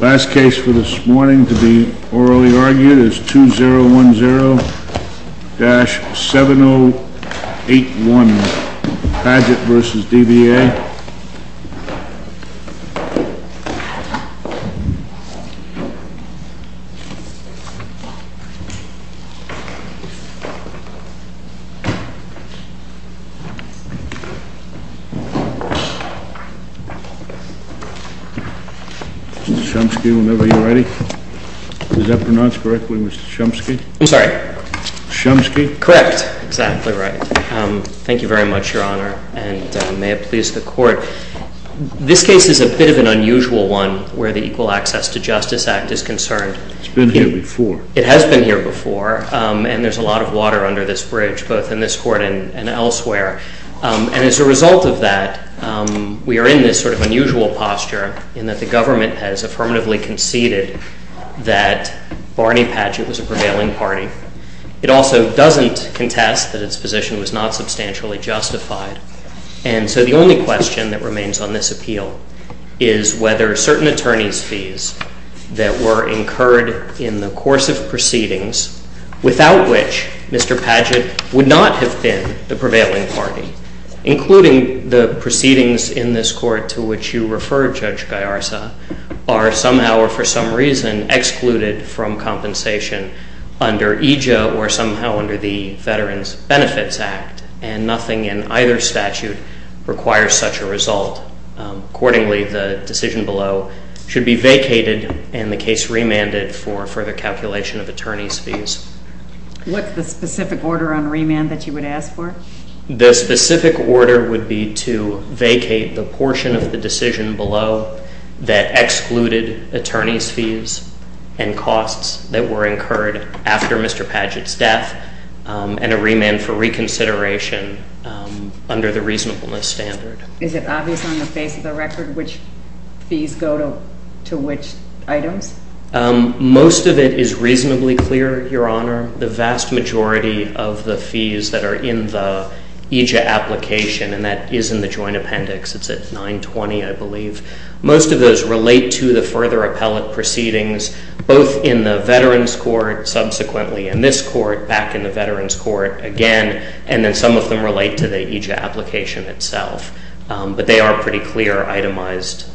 Last case for this morning to be orally argued is 2010-7081 PADGETT v. DVA Mr. Chomsky, whenever you're ready. Is that pronounced correctly, Mr. Chomsky? I'm sorry. Chomsky? Correct. Exactly right. Thank you very much, Your Honor, and may it please the Court. This case is a bit of an unusual one where the Equal Access to Justice Act is concerned. It's been here before. It has been here before, and there's a lot of water under this bridge, both in this Court and elsewhere. And as a result of that, we are in this sort of unusual posture in that the government has affirmatively conceded that Barney Padgett was a prevailing party. It also doesn't contest that its position was not substantially justified. And so the only question that remains on this appeal is whether certain attorney's fees that were incurred in the course of proceedings, without which Mr. Padgett would not have been the prevailing party, including the proceedings in this Court to which you refer, Judge Gallarza, are somehow or for some reason excluded from compensation under EJA or somehow under the Veterans Benefits Act. And nothing in either statute requires such a result. Accordingly, the decision below should be vacated and the case remanded for further calculation of attorney's fees. What's the specific order on remand that you would ask for? The specific order would be to vacate the portion of the decision below that excluded attorney's fees and costs that were incurred after Mr. Padgett's death and a remand for reconsideration under the reasonableness standard. Is it obvious on the face of the record which fees go to which items? Most of it is reasonably clear, Your Honor. The vast majority of the fees that are in the EJA application, and that is in the joint appendix. It's at 920, I believe. Most of those relate to the further appellate proceedings, both in the Veterans Court, subsequently in this Court, back in the Veterans Court again, and then some of them relate to the EJA application itself. But they are pretty clear itemized.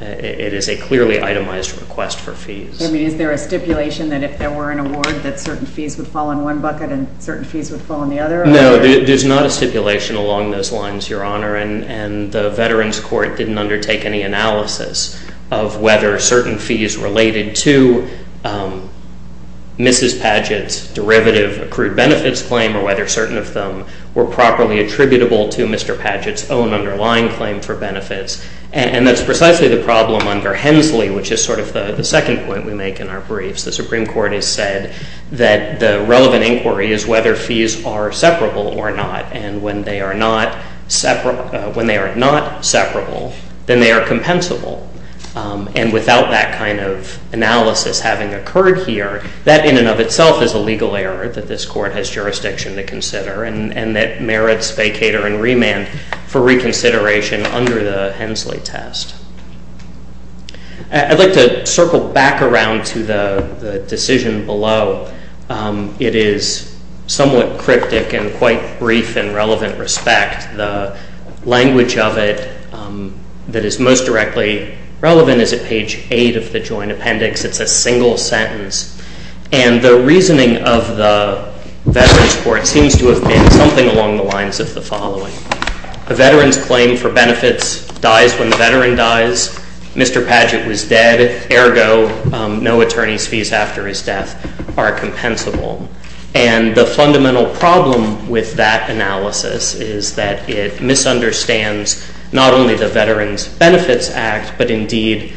It is a clearly itemized request for fees. I mean, is there a stipulation that if there were an award that certain fees would fall in one bucket and certain fees would fall in the other? No, there's not a stipulation along those lines, Your Honor. And the Veterans Court didn't undertake any analysis of whether certain fees related to Mrs. Padgett's derivative accrued benefits claim or whether certain of them were properly attributable to Mr. Padgett's own underlying claim for benefits. And that's precisely the problem under Hensley, which is sort of the second point we make in our briefs. The Supreme Court has said that the relevant inquiry is whether fees are separable or not, and when they are not separable, then they are compensable. And without that kind of analysis having occurred here, that in and of itself is a legal error that this Court has jurisdiction to consider and that merits vacater and remand for reconsideration under the Hensley test. I'd like to circle back around to the decision below. It is somewhat cryptic and quite brief in relevant respect. The language of it that is most directly relevant is at page 8 of the Joint Appendix. It's a single sentence. And the reasoning of the Veterans Court seems to have been something along the lines of the following. A veteran's claim for benefits dies when the veteran dies. Mr. Padgett was dead. Ergo, no attorney's fees after his death are compensable. And the fundamental problem with that analysis is that it misunderstands not only the Veterans Benefits Act, but indeed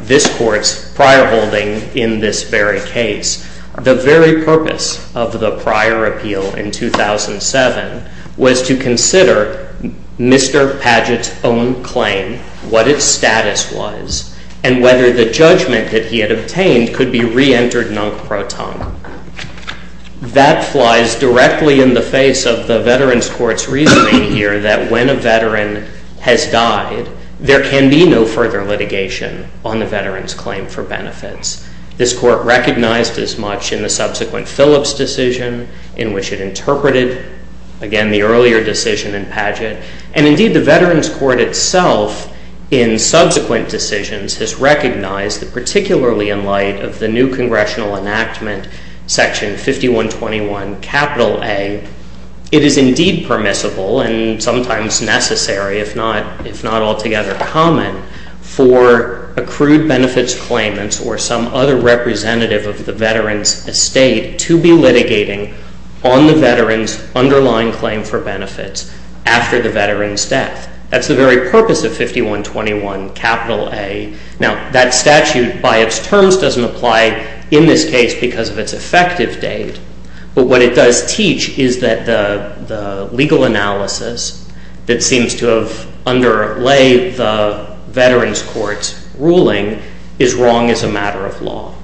this Court's prior holding in this very case. The very purpose of the prior appeal in 2007 was to consider Mr. Padgett's own claim, what its status was, and whether the judgment that he had obtained could be reentered non pro ton. That flies directly in the face of the Veterans Court's reasoning here that when a veteran has died, there can be no further litigation on the veteran's claim for benefits. This Court recognized as much in the subsequent Phillips decision in which it interpreted, again, the earlier decision in Padgett. And indeed, the Veterans Court itself in subsequent decisions has recognized that particularly in light of the new congressional enactment, Section 5121 capital A, it is indeed permissible and sometimes necessary, if not altogether common, for accrued benefits claimants or some other representative of the veteran's estate to be litigating on the veteran's underlying claim for benefits after the veteran's death. That's the very purpose of 5121 capital A. Now, that statute by its terms doesn't apply in this case because of its effective date, but what it does teach is that the legal analysis that seems to have underlay the Veterans Court's ruling is wrong as a matter of law.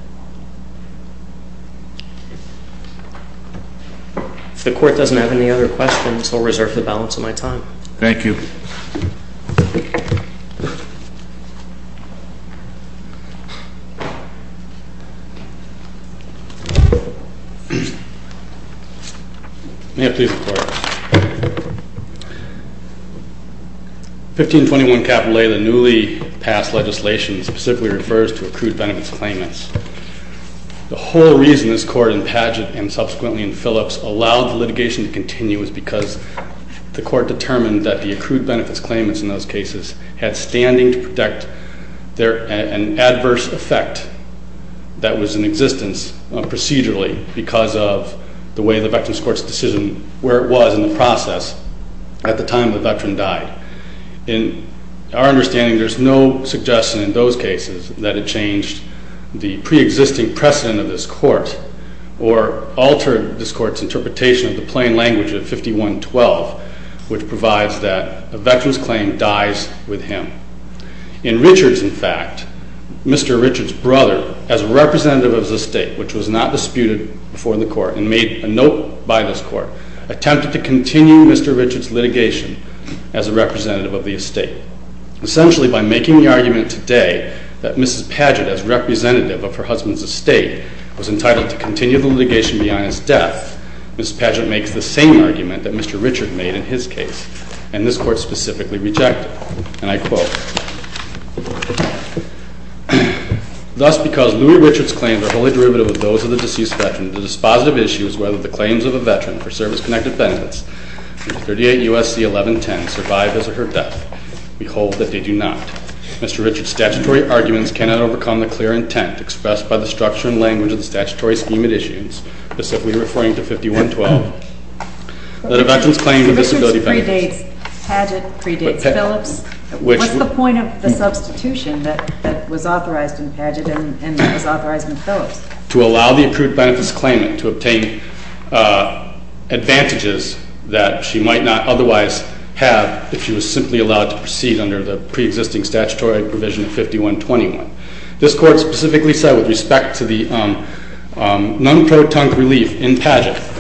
If the Court doesn't have any other questions, I'll reserve the balance of my time. Thank you. May I please report? 1521 capital A, the newly passed legislation, specifically refers to accrued benefits claimants. The whole reason this Court in Padgett and subsequently in Phillips allowed the litigation to continue is because the Court determined that the accrued benefits claimants in those cases had standing to protect an adverse effect that was in existence procedurally because of the way the Veterans Court's decision, where it was in the process at the time the veteran died. In our understanding, there's no suggestion in those cases that it changed the preexisting precedent of this Court or altered this Court's interpretation of the plain language of 5112, which provides that a veteran's claim dies with him. In Richards, in fact, Mr. Richards' brother, as a representative of the estate, which was not disputed before the Court and made a note by this Court, attempted to continue Mr. Richards' litigation as a representative of the estate. Essentially, by making the argument today that Mrs. Padgett, as representative of her husband's estate, was entitled to continue the litigation beyond his death, Mrs. Padgett makes the same argument that Mr. Richards made in his case. And this Court specifically rejected. And I quote, thus because Louis Richards' claims are wholly derivative of those of the deceased veteran, the dispositive issue is whether the claims of a veteran for service-connected benefits under 38 U.S.C. 1110 survive his or her death. We hold that they do not. Mr. Richards' statutory arguments cannot overcome the clear intent expressed by the structure and language of the statutory scheme at issue, specifically referring to 5112. That a veteran's claim to disability benefits- Mr. Richards' predates Padgett, predates Phillips. What's the point of the substitution that was authorized in Padgett and was authorized in Phillips? To allow the accrued benefits claimant to obtain advantages that she might not otherwise have if she was simply allowed to proceed under the preexisting statutory provision of 5121. This Court specifically said with respect to the non-pro-tunc relief in Padgett,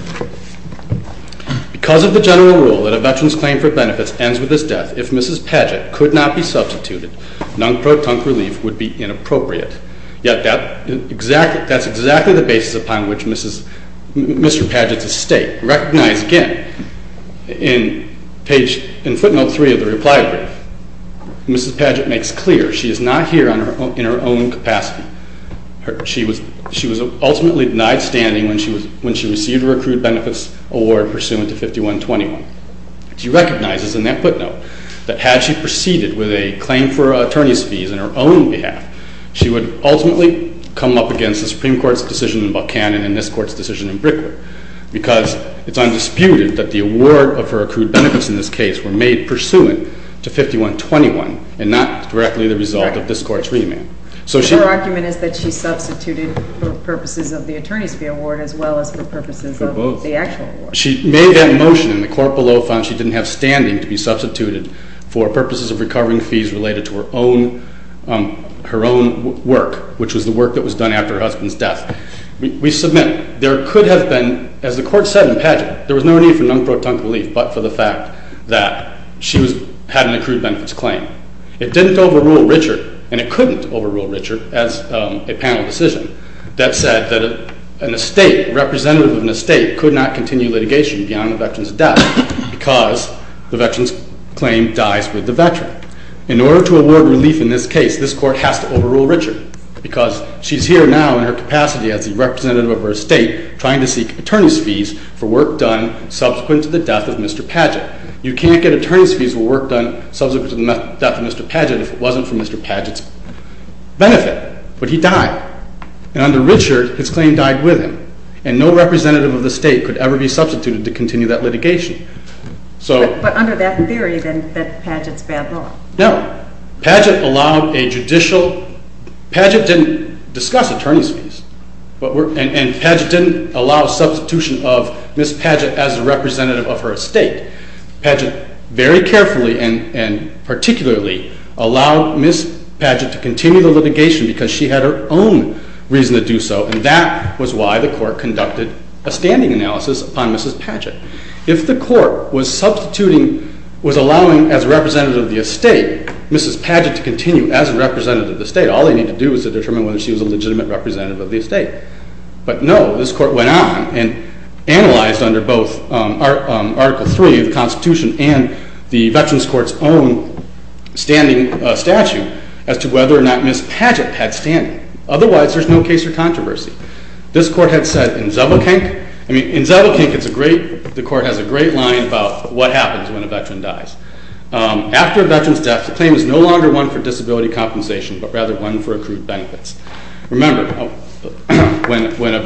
because of the general rule that a veteran's claim for benefits ends with his death, if Mrs. Padgett could not be substituted, non-pro-tunc relief would be inappropriate. Yet that's exactly the basis upon which Mr. Padgett's estate recognized again. In footnote 3 of the reply brief, Mrs. Padgett makes clear she is not here in her own capacity. She was ultimately denied standing when she received her accrued benefits award pursuant to 5121. She recognizes in that footnote that had she proceeded with a claim for attorney's fees on her own behalf, she would ultimately come up against the Supreme Court's decision in Buchanan and this Court's decision in Brickwood, because it's undisputed that the award of her accrued benefits in this case were made pursuant to 5121 and not directly the result of this Court's remand. So her argument is that she substituted for purposes of the attorney's fee award as well as for purposes of the actual award. She made that motion and the court below found she didn't have standing to be substituted for purposes of recovering fees related to her own work, which was the work that was done after her husband's death. We submit there could have been, as the Court said in Padgett, there was no need for non-protunct relief but for the fact that she had an accrued benefits claim. It didn't overrule Richard and it couldn't overrule Richard as a panel decision that said that an estate, representative of an estate, could not continue litigation beyond a veteran's death because the veteran's claim dies with the veteran. In order to award relief in this case, this Court has to overrule Richard because she's here now in her capacity as a representative of her estate trying to seek attorney's fees for work done subsequent to the death of Mr. Padgett. You can't get attorney's fees for work done subsequent to the death of Mr. Padgett if it wasn't for Mr. Padgett's benefit. But he died. And under Richard, his claim died with him. And no representative of the state could ever be substituted to continue that litigation. But under that theory, then, that Padgett's bad law. No. Padgett allowed a judicial—Padgett didn't discuss attorney's fees and Padgett didn't allow substitution of Ms. Padgett as a representative of her estate. Padgett very carefully and particularly allowed Ms. Padgett to continue the litigation because she had her own reason to do so and that was why the Court conducted a standing analysis upon Mrs. Padgett. If the Court was substituting—was allowing as a representative of the estate Mrs. Padgett to continue as a representative of the estate, all they need to do is to determine whether she was a legitimate representative of the estate. But no, this Court went on and analyzed under both Article III of the Constitution and the Veterans Court's own standing statute as to whether or not Ms. Padgett had standing. Otherwise, there's no case for controversy. This Court had said in Zabelkank—I mean, in Zabelkank, it's a great—the Court has a great line about what happens when a veteran dies. After a veteran's death, the claim is no longer one for disability compensation but rather one for accrued benefits. Remember, when a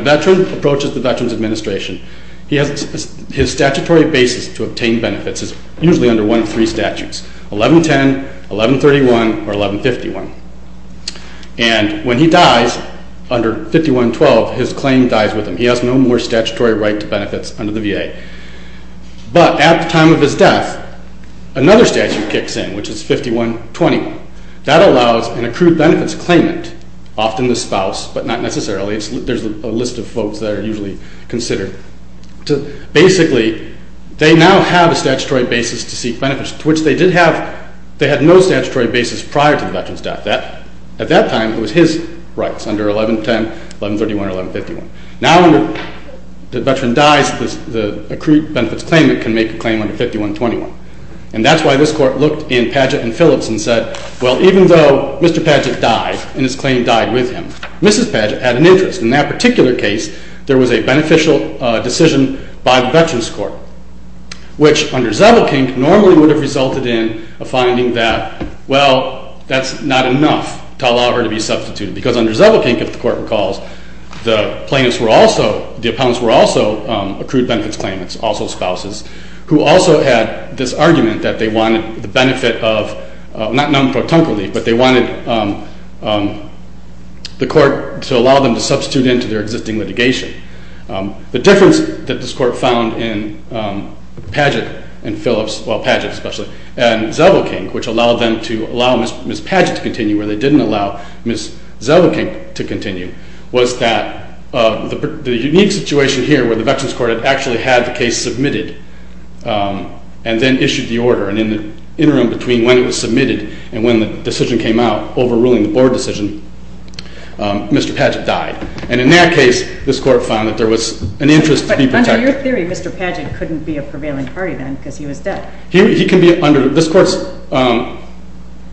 veteran approaches the Veterans Administration, his statutory basis to obtain benefits is usually under one of three statutes—1110, 1131, or 1151. And when he dies under 5112, his claim dies with him. He has no more statutory right to benefits under the VA. But at the time of his death, another statute kicks in, which is 5120. That allows an accrued benefits claimant—often the spouse, but not necessarily. There's a list of folks that are usually considered. Basically, they now have a statutory basis to seek benefits, to which they did have—they had no statutory basis prior to the veteran's death. At that time, it was his rights under 1110, 1131, or 1151. Now, when the veteran dies, the accrued benefits claimant can make a claim under 5121. And that's why this Court looked in Padgett and Phillips and said, well, even though Mr. Padgett died and his claim died with him, Mrs. Padgett had an interest. In that particular case, there was a beneficial decision by the Veterans Court, which under Zellweger and Kink normally would have resulted in a finding that, well, that's not enough to allow her to be substituted. Because under Zellweger and Kink, if the Court recalls, the plaintiffs were also—the opponents were also accrued benefits claimants, also spouses, who also had this argument that they wanted the benefit of—not non-protunctively, but they wanted the Court to allow them to substitute into their existing litigation. The difference that this Court found in Padgett and Phillips—well, Padgett especially—and Zellweger and Kink, which allowed them to allow Mrs. Padgett to continue where they didn't allow Mrs. Zellweger and Kink to continue, was that the unique situation here where the Veterans Court had actually had the case submitted and then issued the order, and in the interim between when it was submitted and when the decision came out, overruling the Board decision, Mr. Padgett died. And in that case, this Court found that there was an interest to be protected. But under your theory, Mr. Padgett couldn't be a prevailing party then because he was dead. He can be under—this Court's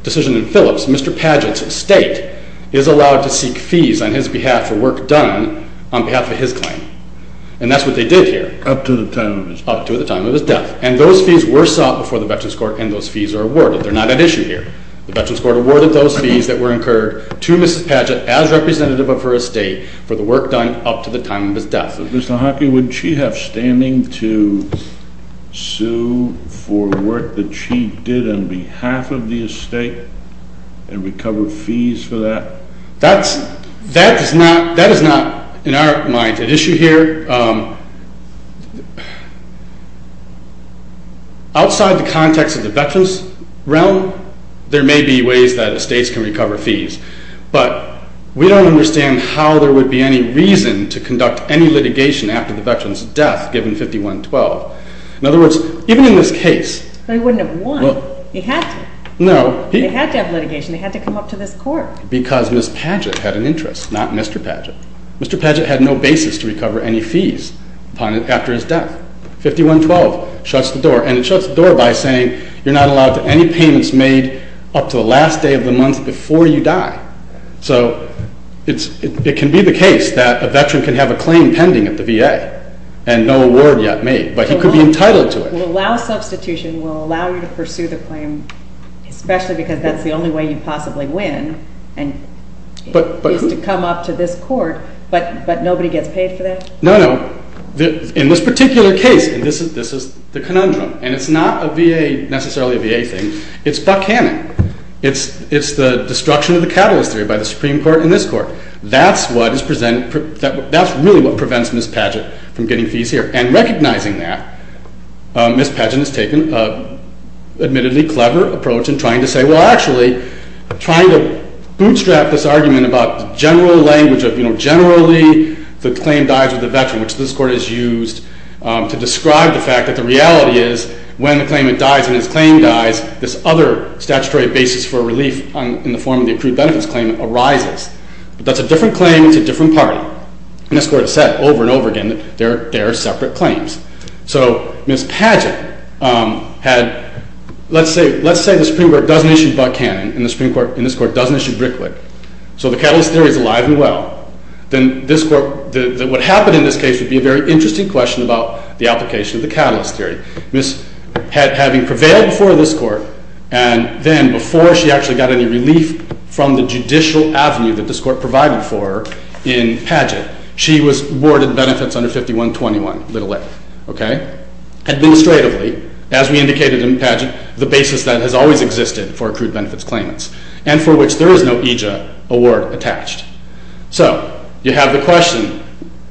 decision in Phillips, Mr. Padgett's estate is allowed to seek fees on his behalf for work done on behalf of his claim. And that's what they did here. Up to the time of his death. Up to the time of his death. And those fees were sought before the Veterans Court, and those fees are awarded. They're not at issue here. The Veterans Court awarded those fees that were incurred to Mrs. Padgett as representative of her estate for the work done up to the time of his death. Mr. Hockey, would she have standing to sue for work that she did on behalf of the estate and recover fees for that? That is not, in our mind, at issue here. Outside the context of the veterans' realm, there may be ways that estates can recover fees. But we don't understand how there would be any reason to conduct any litigation after the veteran's death, given 51-12. In other words, even in this case— But he wouldn't have won. He had to. No. He had to have litigation. He had to come up to this Court. Because Ms. Padgett had an interest, not Mr. Padgett. Mr. Padgett had no basis to recover any fees after his death. 51-12 shuts the door. And it shuts the door by saying you're not allowed any payments made up to the last day of the month before you die. So it can be the case that a veteran can have a claim pending at the VA and no award yet made. But he could be entitled to it. Well, allow substitution will allow you to pursue the claim, especially because that's the only way you'd possibly win. And he has to come up to this Court, but nobody gets paid for that? No, no. In this particular case, and this is the conundrum, and it's not necessarily a VA thing, it's Buck Hannon. It's the destruction of the catalyst theory by the Supreme Court and this Court. That's really what prevents Ms. Padgett from getting fees here. And recognizing that, Ms. Padgett has taken an admittedly clever approach in trying to say, and this Court has used to describe the fact that the reality is when the claimant dies and his claim dies, this other statutory basis for relief in the form of the accrued benefits claim arises. But that's a different claim to a different party. And this Court has said over and over again that there are separate claims. So Ms. Padgett had, let's say the Supreme Court doesn't issue Buck Hannon and this Court doesn't issue Brickwick. So the catalyst theory is alive and well. Then what happened in this case would be a very interesting question about the application of the catalyst theory. Ms. Padgett, having prevailed before this Court, and then before she actually got any relief from the judicial avenue that this Court provided for her in Padgett, she was awarded benefits under 5121, little f. Administratively, as we indicated in Padgett, the basis that has always existed for accrued benefits claimants, and for which there is no EJA award attached. So you have the question,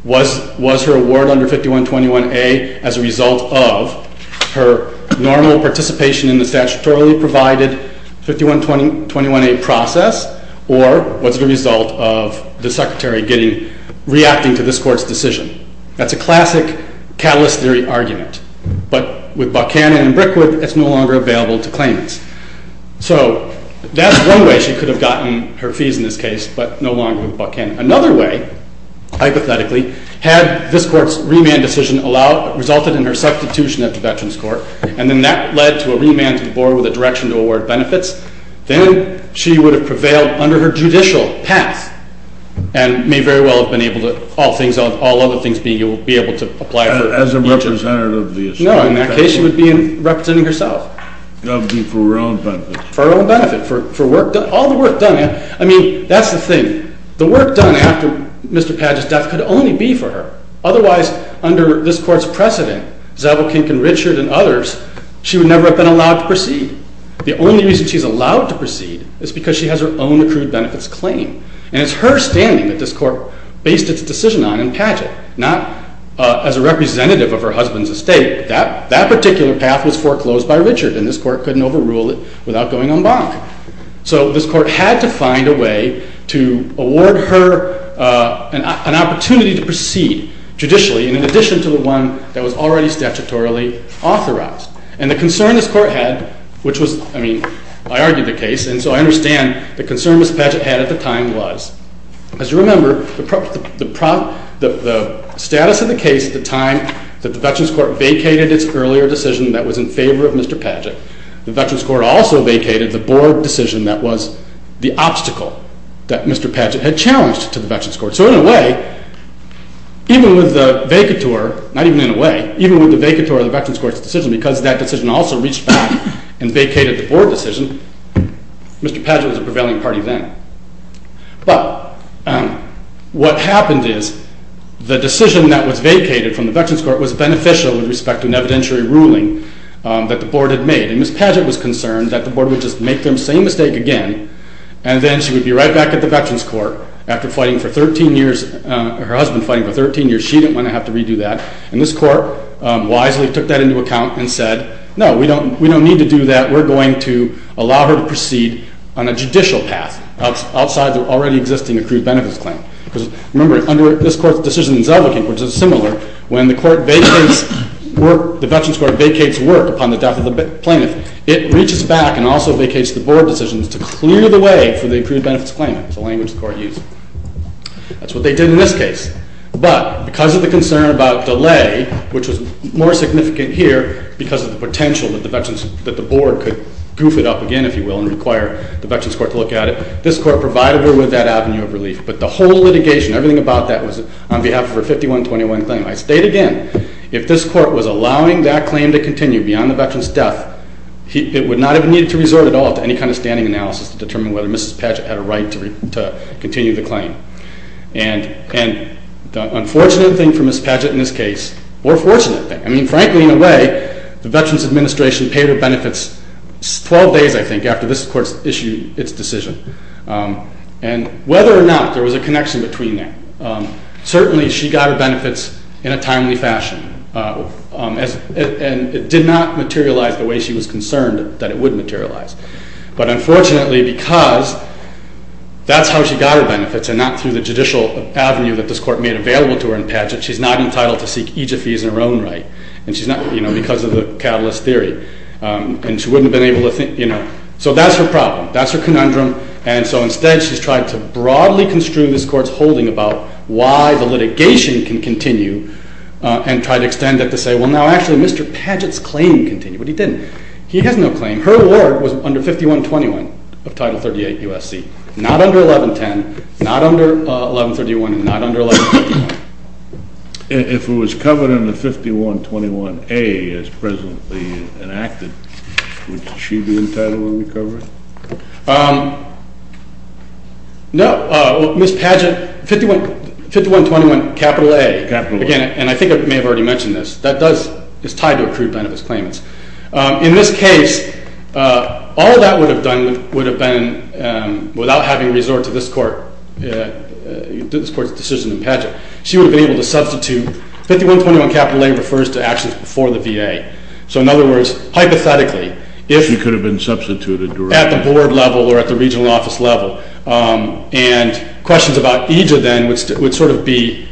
was her award under 5121A as a result of her normal participation in the statutorily provided 5121A process, or was it a result of the Secretary reacting to this Court's decision? That's a classic catalyst theory argument. But with Buck Hannon and Brickwick, it's no longer available to claimants. So that's one way she could have gotten her fees in this case, but no longer with Buck Hannon. Another way, hypothetically, had this Court's remand decision resulted in her substitution at the Veterans Court, and then that led to a remand to the Board with a direction to award benefits, then she would have prevailed under her judicial path and may very well have been able to, all other things being, be able to apply for EJA. As a representative of the Association? No, in that case she would be representing herself. She would be for her own benefit. For her own benefit, for all the work done. I mean, that's the thing. The work done after Mr. Padgett's death could only be for her. Otherwise, under this Court's precedent, Zabel, Kink, and Richard, and others, she would never have been allowed to proceed. The only reason she's allowed to proceed is because she has her own accrued benefits claim. And it's her standing that this Court based its decision on in Padgett, not as a representative of her husband's estate. That particular path was foreclosed by Richard, and this Court couldn't overrule it without going en banc. So this Court had to find a way to award her an opportunity to proceed judicially, in addition to the one that was already statutorily authorized. And the concern this Court had, which was, I mean, I argued the case, and so I understand the concern Mr. Padgett had at the time was, as you remember, the status of the case at the time that the Veterans Court vacated its earlier decision that was in favor of Mr. Padgett. The Veterans Court also vacated the Board decision that was the obstacle that Mr. Padgett had challenged to the Veterans Court. So in a way, even with the vacatur, not even in a way, even with the vacatur of the Veterans Court's decision, because that decision also reached back and vacated the Board decision, Mr. Padgett was a prevailing party then. But what happened is the decision that was vacated from the Veterans Court was beneficial with respect to an evidentiary ruling that the Board had made. And Ms. Padgett was concerned that the Board would just make the same mistake again, and then she would be right back at the Veterans Court after fighting for 13 years, her husband fighting for 13 years. She didn't want to have to redo that. And this Court wisely took that into account and said, no, we don't need to do that. We're going to allow her to proceed on a judicial path outside the already existing accrued benefits claim. Because remember, under this Court's decision in Selvakink, which is similar, when the Veterans Court vacates work upon the death of the plaintiff, it reaches back and also vacates the Board decisions to clear the way for the accrued benefits claim. That's the language the Court used. That's what they did in this case. But because of the concern about delay, which was more significant here, because of the potential that the Board could goof it up again, if you will, and require the Veterans Court to look at it, this Court provided her with that avenue of relief. But the whole litigation, everything about that was on behalf of her 5121 claim. I state again, if this Court was allowing that claim to continue beyond the veteran's death, it would not have needed to resort at all to any kind of standing analysis to determine whether Ms. Padgett had a right to continue the claim. And the unfortunate thing for Ms. Padgett in this case, or fortunate thing, I mean, frankly, in a way, the Veterans Administration paid her benefits 12 days, I think, after this Court issued its decision. And whether or not there was a connection between them, certainly she got her benefits in a timely fashion. And it did not materialize the way she was concerned that it would materialize. But unfortunately, because that's how she got her benefits and not through the judicial avenue that this Court made available to her and Padgett, she's not entitled to seek EJF fees in her own right. And she's not, you know, because of the catalyst theory. And she wouldn't have been able to, you know. So that's her problem. That's her conundrum. And so instead, she's tried to broadly construe this Court's holding about why the litigation can continue and tried to extend it to say, well, now actually Mr. Padgett's claim continued. But he didn't. He has no claim. Her award was under 5121 of Title 38 USC, not under 1110, not under 1131, and not under 1151. If it was covered under 5121A as presently enacted, would she be entitled to recover it? No. Well, Ms. Padgett, 5121A, again, and I think I may have already mentioned this, that is tied to accrued benefits claim. In this case, all that would have done would have been, without having resorted to this Court's decision in Padgett, she would have been able to substitute 5121A refers to actions before the VA. So in other words, hypothetically, if- She could have been substituted directly. At the board level or at the regional office level. And questions about EJF then would sort of be,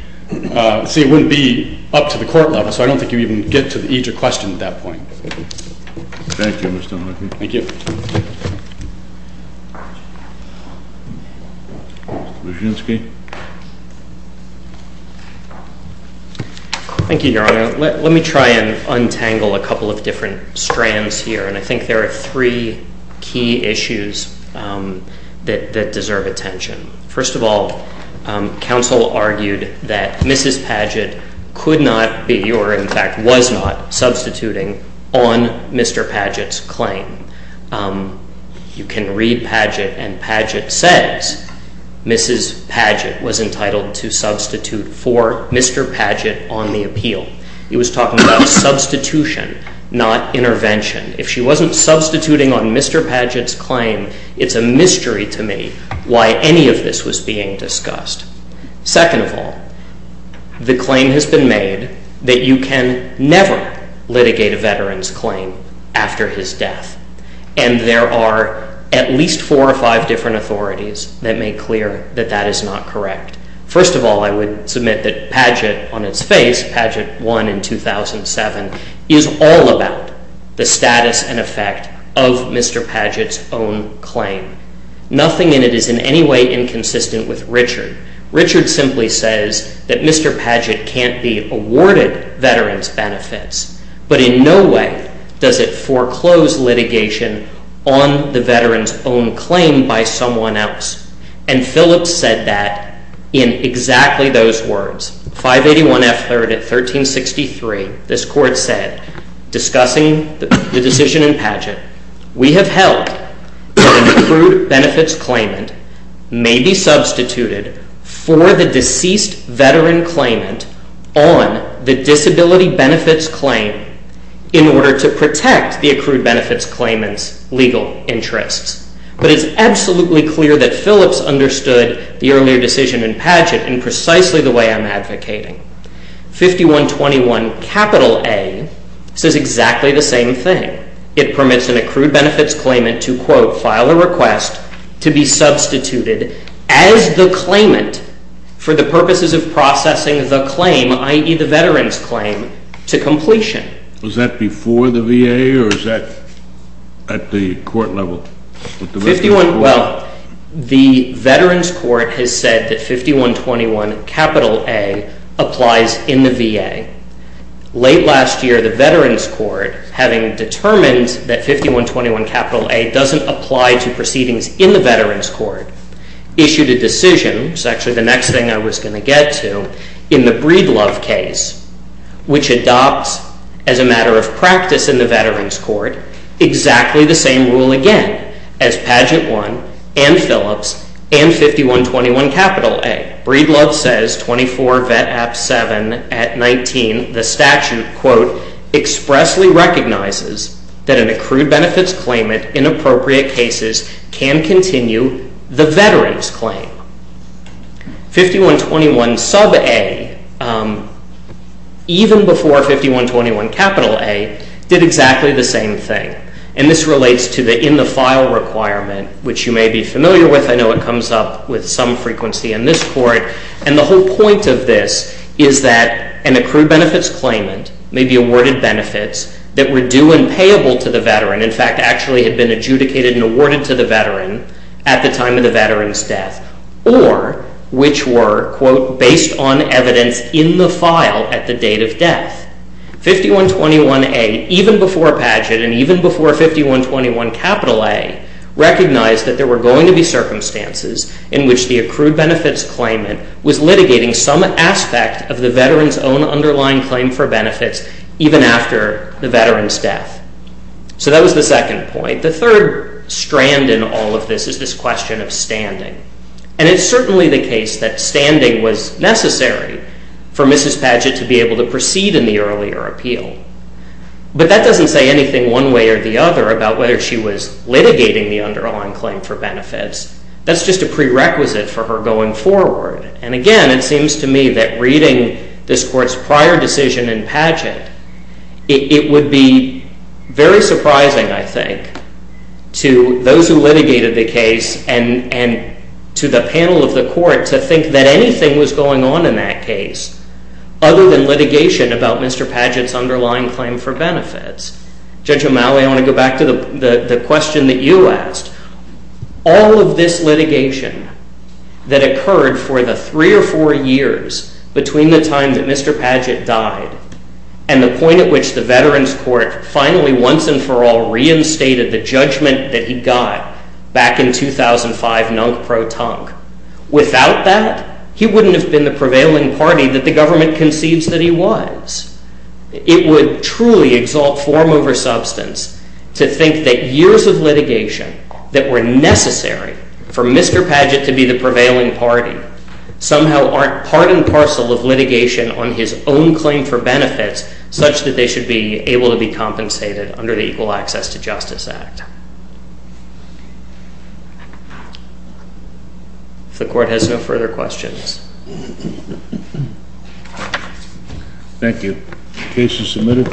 see, it wouldn't be up to the court level. So I don't think you'd even get to the EJF question at that point. Thank you, Mr. Huckabee. Thank you. Mr. Brzezinski. Thank you, Your Honor. Let me try and untangle a couple of different strands here. And I think there are three key issues that deserve attention. First of all, counsel argued that Mrs. Padgett could not be, or in fact was not, substituting on Mr. Padgett's claim. You can read Padgett, and Padgett says Mrs. Padgett was entitled to substitute for Mr. Padgett on the appeal. It was talking about substitution, not intervention. If she wasn't substituting on Mr. Padgett's claim, it's a mystery to me why any of this was being discussed. Second of all, the claim has been made that you can never litigate a veteran's claim after his death. And there are at least four or five different authorities that make clear that that is not correct. First of all, I would submit that Padgett, on its face, Padgett won in 2007, is all about the status and effect of Mr. Padgett's own claim. Nothing in it is in any way inconsistent with Richard. Richard simply says that Mr. Padgett can't be awarded veterans' benefits, but in no way does it foreclose litigation on the veteran's own claim by someone else. And Phillips said that in exactly those words. 581 F. 3rd at 1363, this Court said, discussing the decision in Padgett, we have held that an accrued benefits claimant may be substituted for the deceased veteran claimant on the disability benefits claim in order to protect the accrued benefits claimant's legal interests. But it's absolutely clear that Phillips understood the earlier decision in Padgett in precisely the way I'm advocating. 5121 A says exactly the same thing. It permits an accrued benefits claimant to, quote, file a request to be substituted as the claimant for the purposes of processing the claim, i.e., the veteran's claim, to completion. Was that before the VA or is that at the court level? Well, the Veterans Court has said that 5121 A applies in the VA. Late last year, the Veterans Court, having determined that 5121 A doesn't apply to proceedings in the Veterans Court, issued a decision, which is actually the next thing I was going to get to, in the Breedlove case, which adopts, as a matter of practice in the Veterans Court, exactly the same rule again as Padgett 1 and Phillips and 5121 A. Breedlove says 24 VET App 7 at 19, the statute, quote, expressly recognizes that an accrued benefits claimant in appropriate cases can continue the veteran's claim. 5121 sub A, even before 5121 capital A, did exactly the same thing. And this relates to the in-the-file requirement, which you may be familiar with. I know it comes up with some frequency in this court. And the whole point of this is that an accrued benefits claimant may be awarded benefits that were due and payable to the veteran, in fact, actually had been adjudicated and awarded to the veteran at the time of the veteran's death, or which were, quote, based on evidence in the file at the date of death. 5121 A, even before Padgett and even before 5121 capital A, recognized that there were going to be circumstances in which the accrued benefits claimant was litigating some aspect of the veteran's own underlying claim for benefits, even after the veteran's death. So that was the second point. The third strand in all of this is this question of standing. And it's certainly the case that standing was necessary for Mrs. Padgett to be able to proceed in the earlier appeal. But that doesn't say anything one way or the other about whether she was litigating the underlying claim for benefits. That's just a prerequisite for her going forward. And again, it seems to me that reading this court's prior decision in Padgett, it would be very surprising, I think, to those who litigated the case and to the panel of the court to think that anything was going on in that case other than litigation about Mr. Padgett's underlying claim for benefits. Judge O'Malley, I want to go back to the question that you asked. All of this litigation that occurred for the three or four years between the time that Mr. Padgett died and the point at which the Veterans Court finally, once and for all, reinstated the judgment that he got back in 2005, nunc pro tonc. Without that, he wouldn't have been the prevailing party that the government conceives that he was. It would truly exalt form over substance to think that years of litigation that were necessary for Mr. Padgett to be the prevailing party somehow aren't part and parcel of litigation on his own claim for benefits such that they should be able to be compensated under the Equal Access to Justice Act. If the court has no further questions. Thank you. Case is submitted.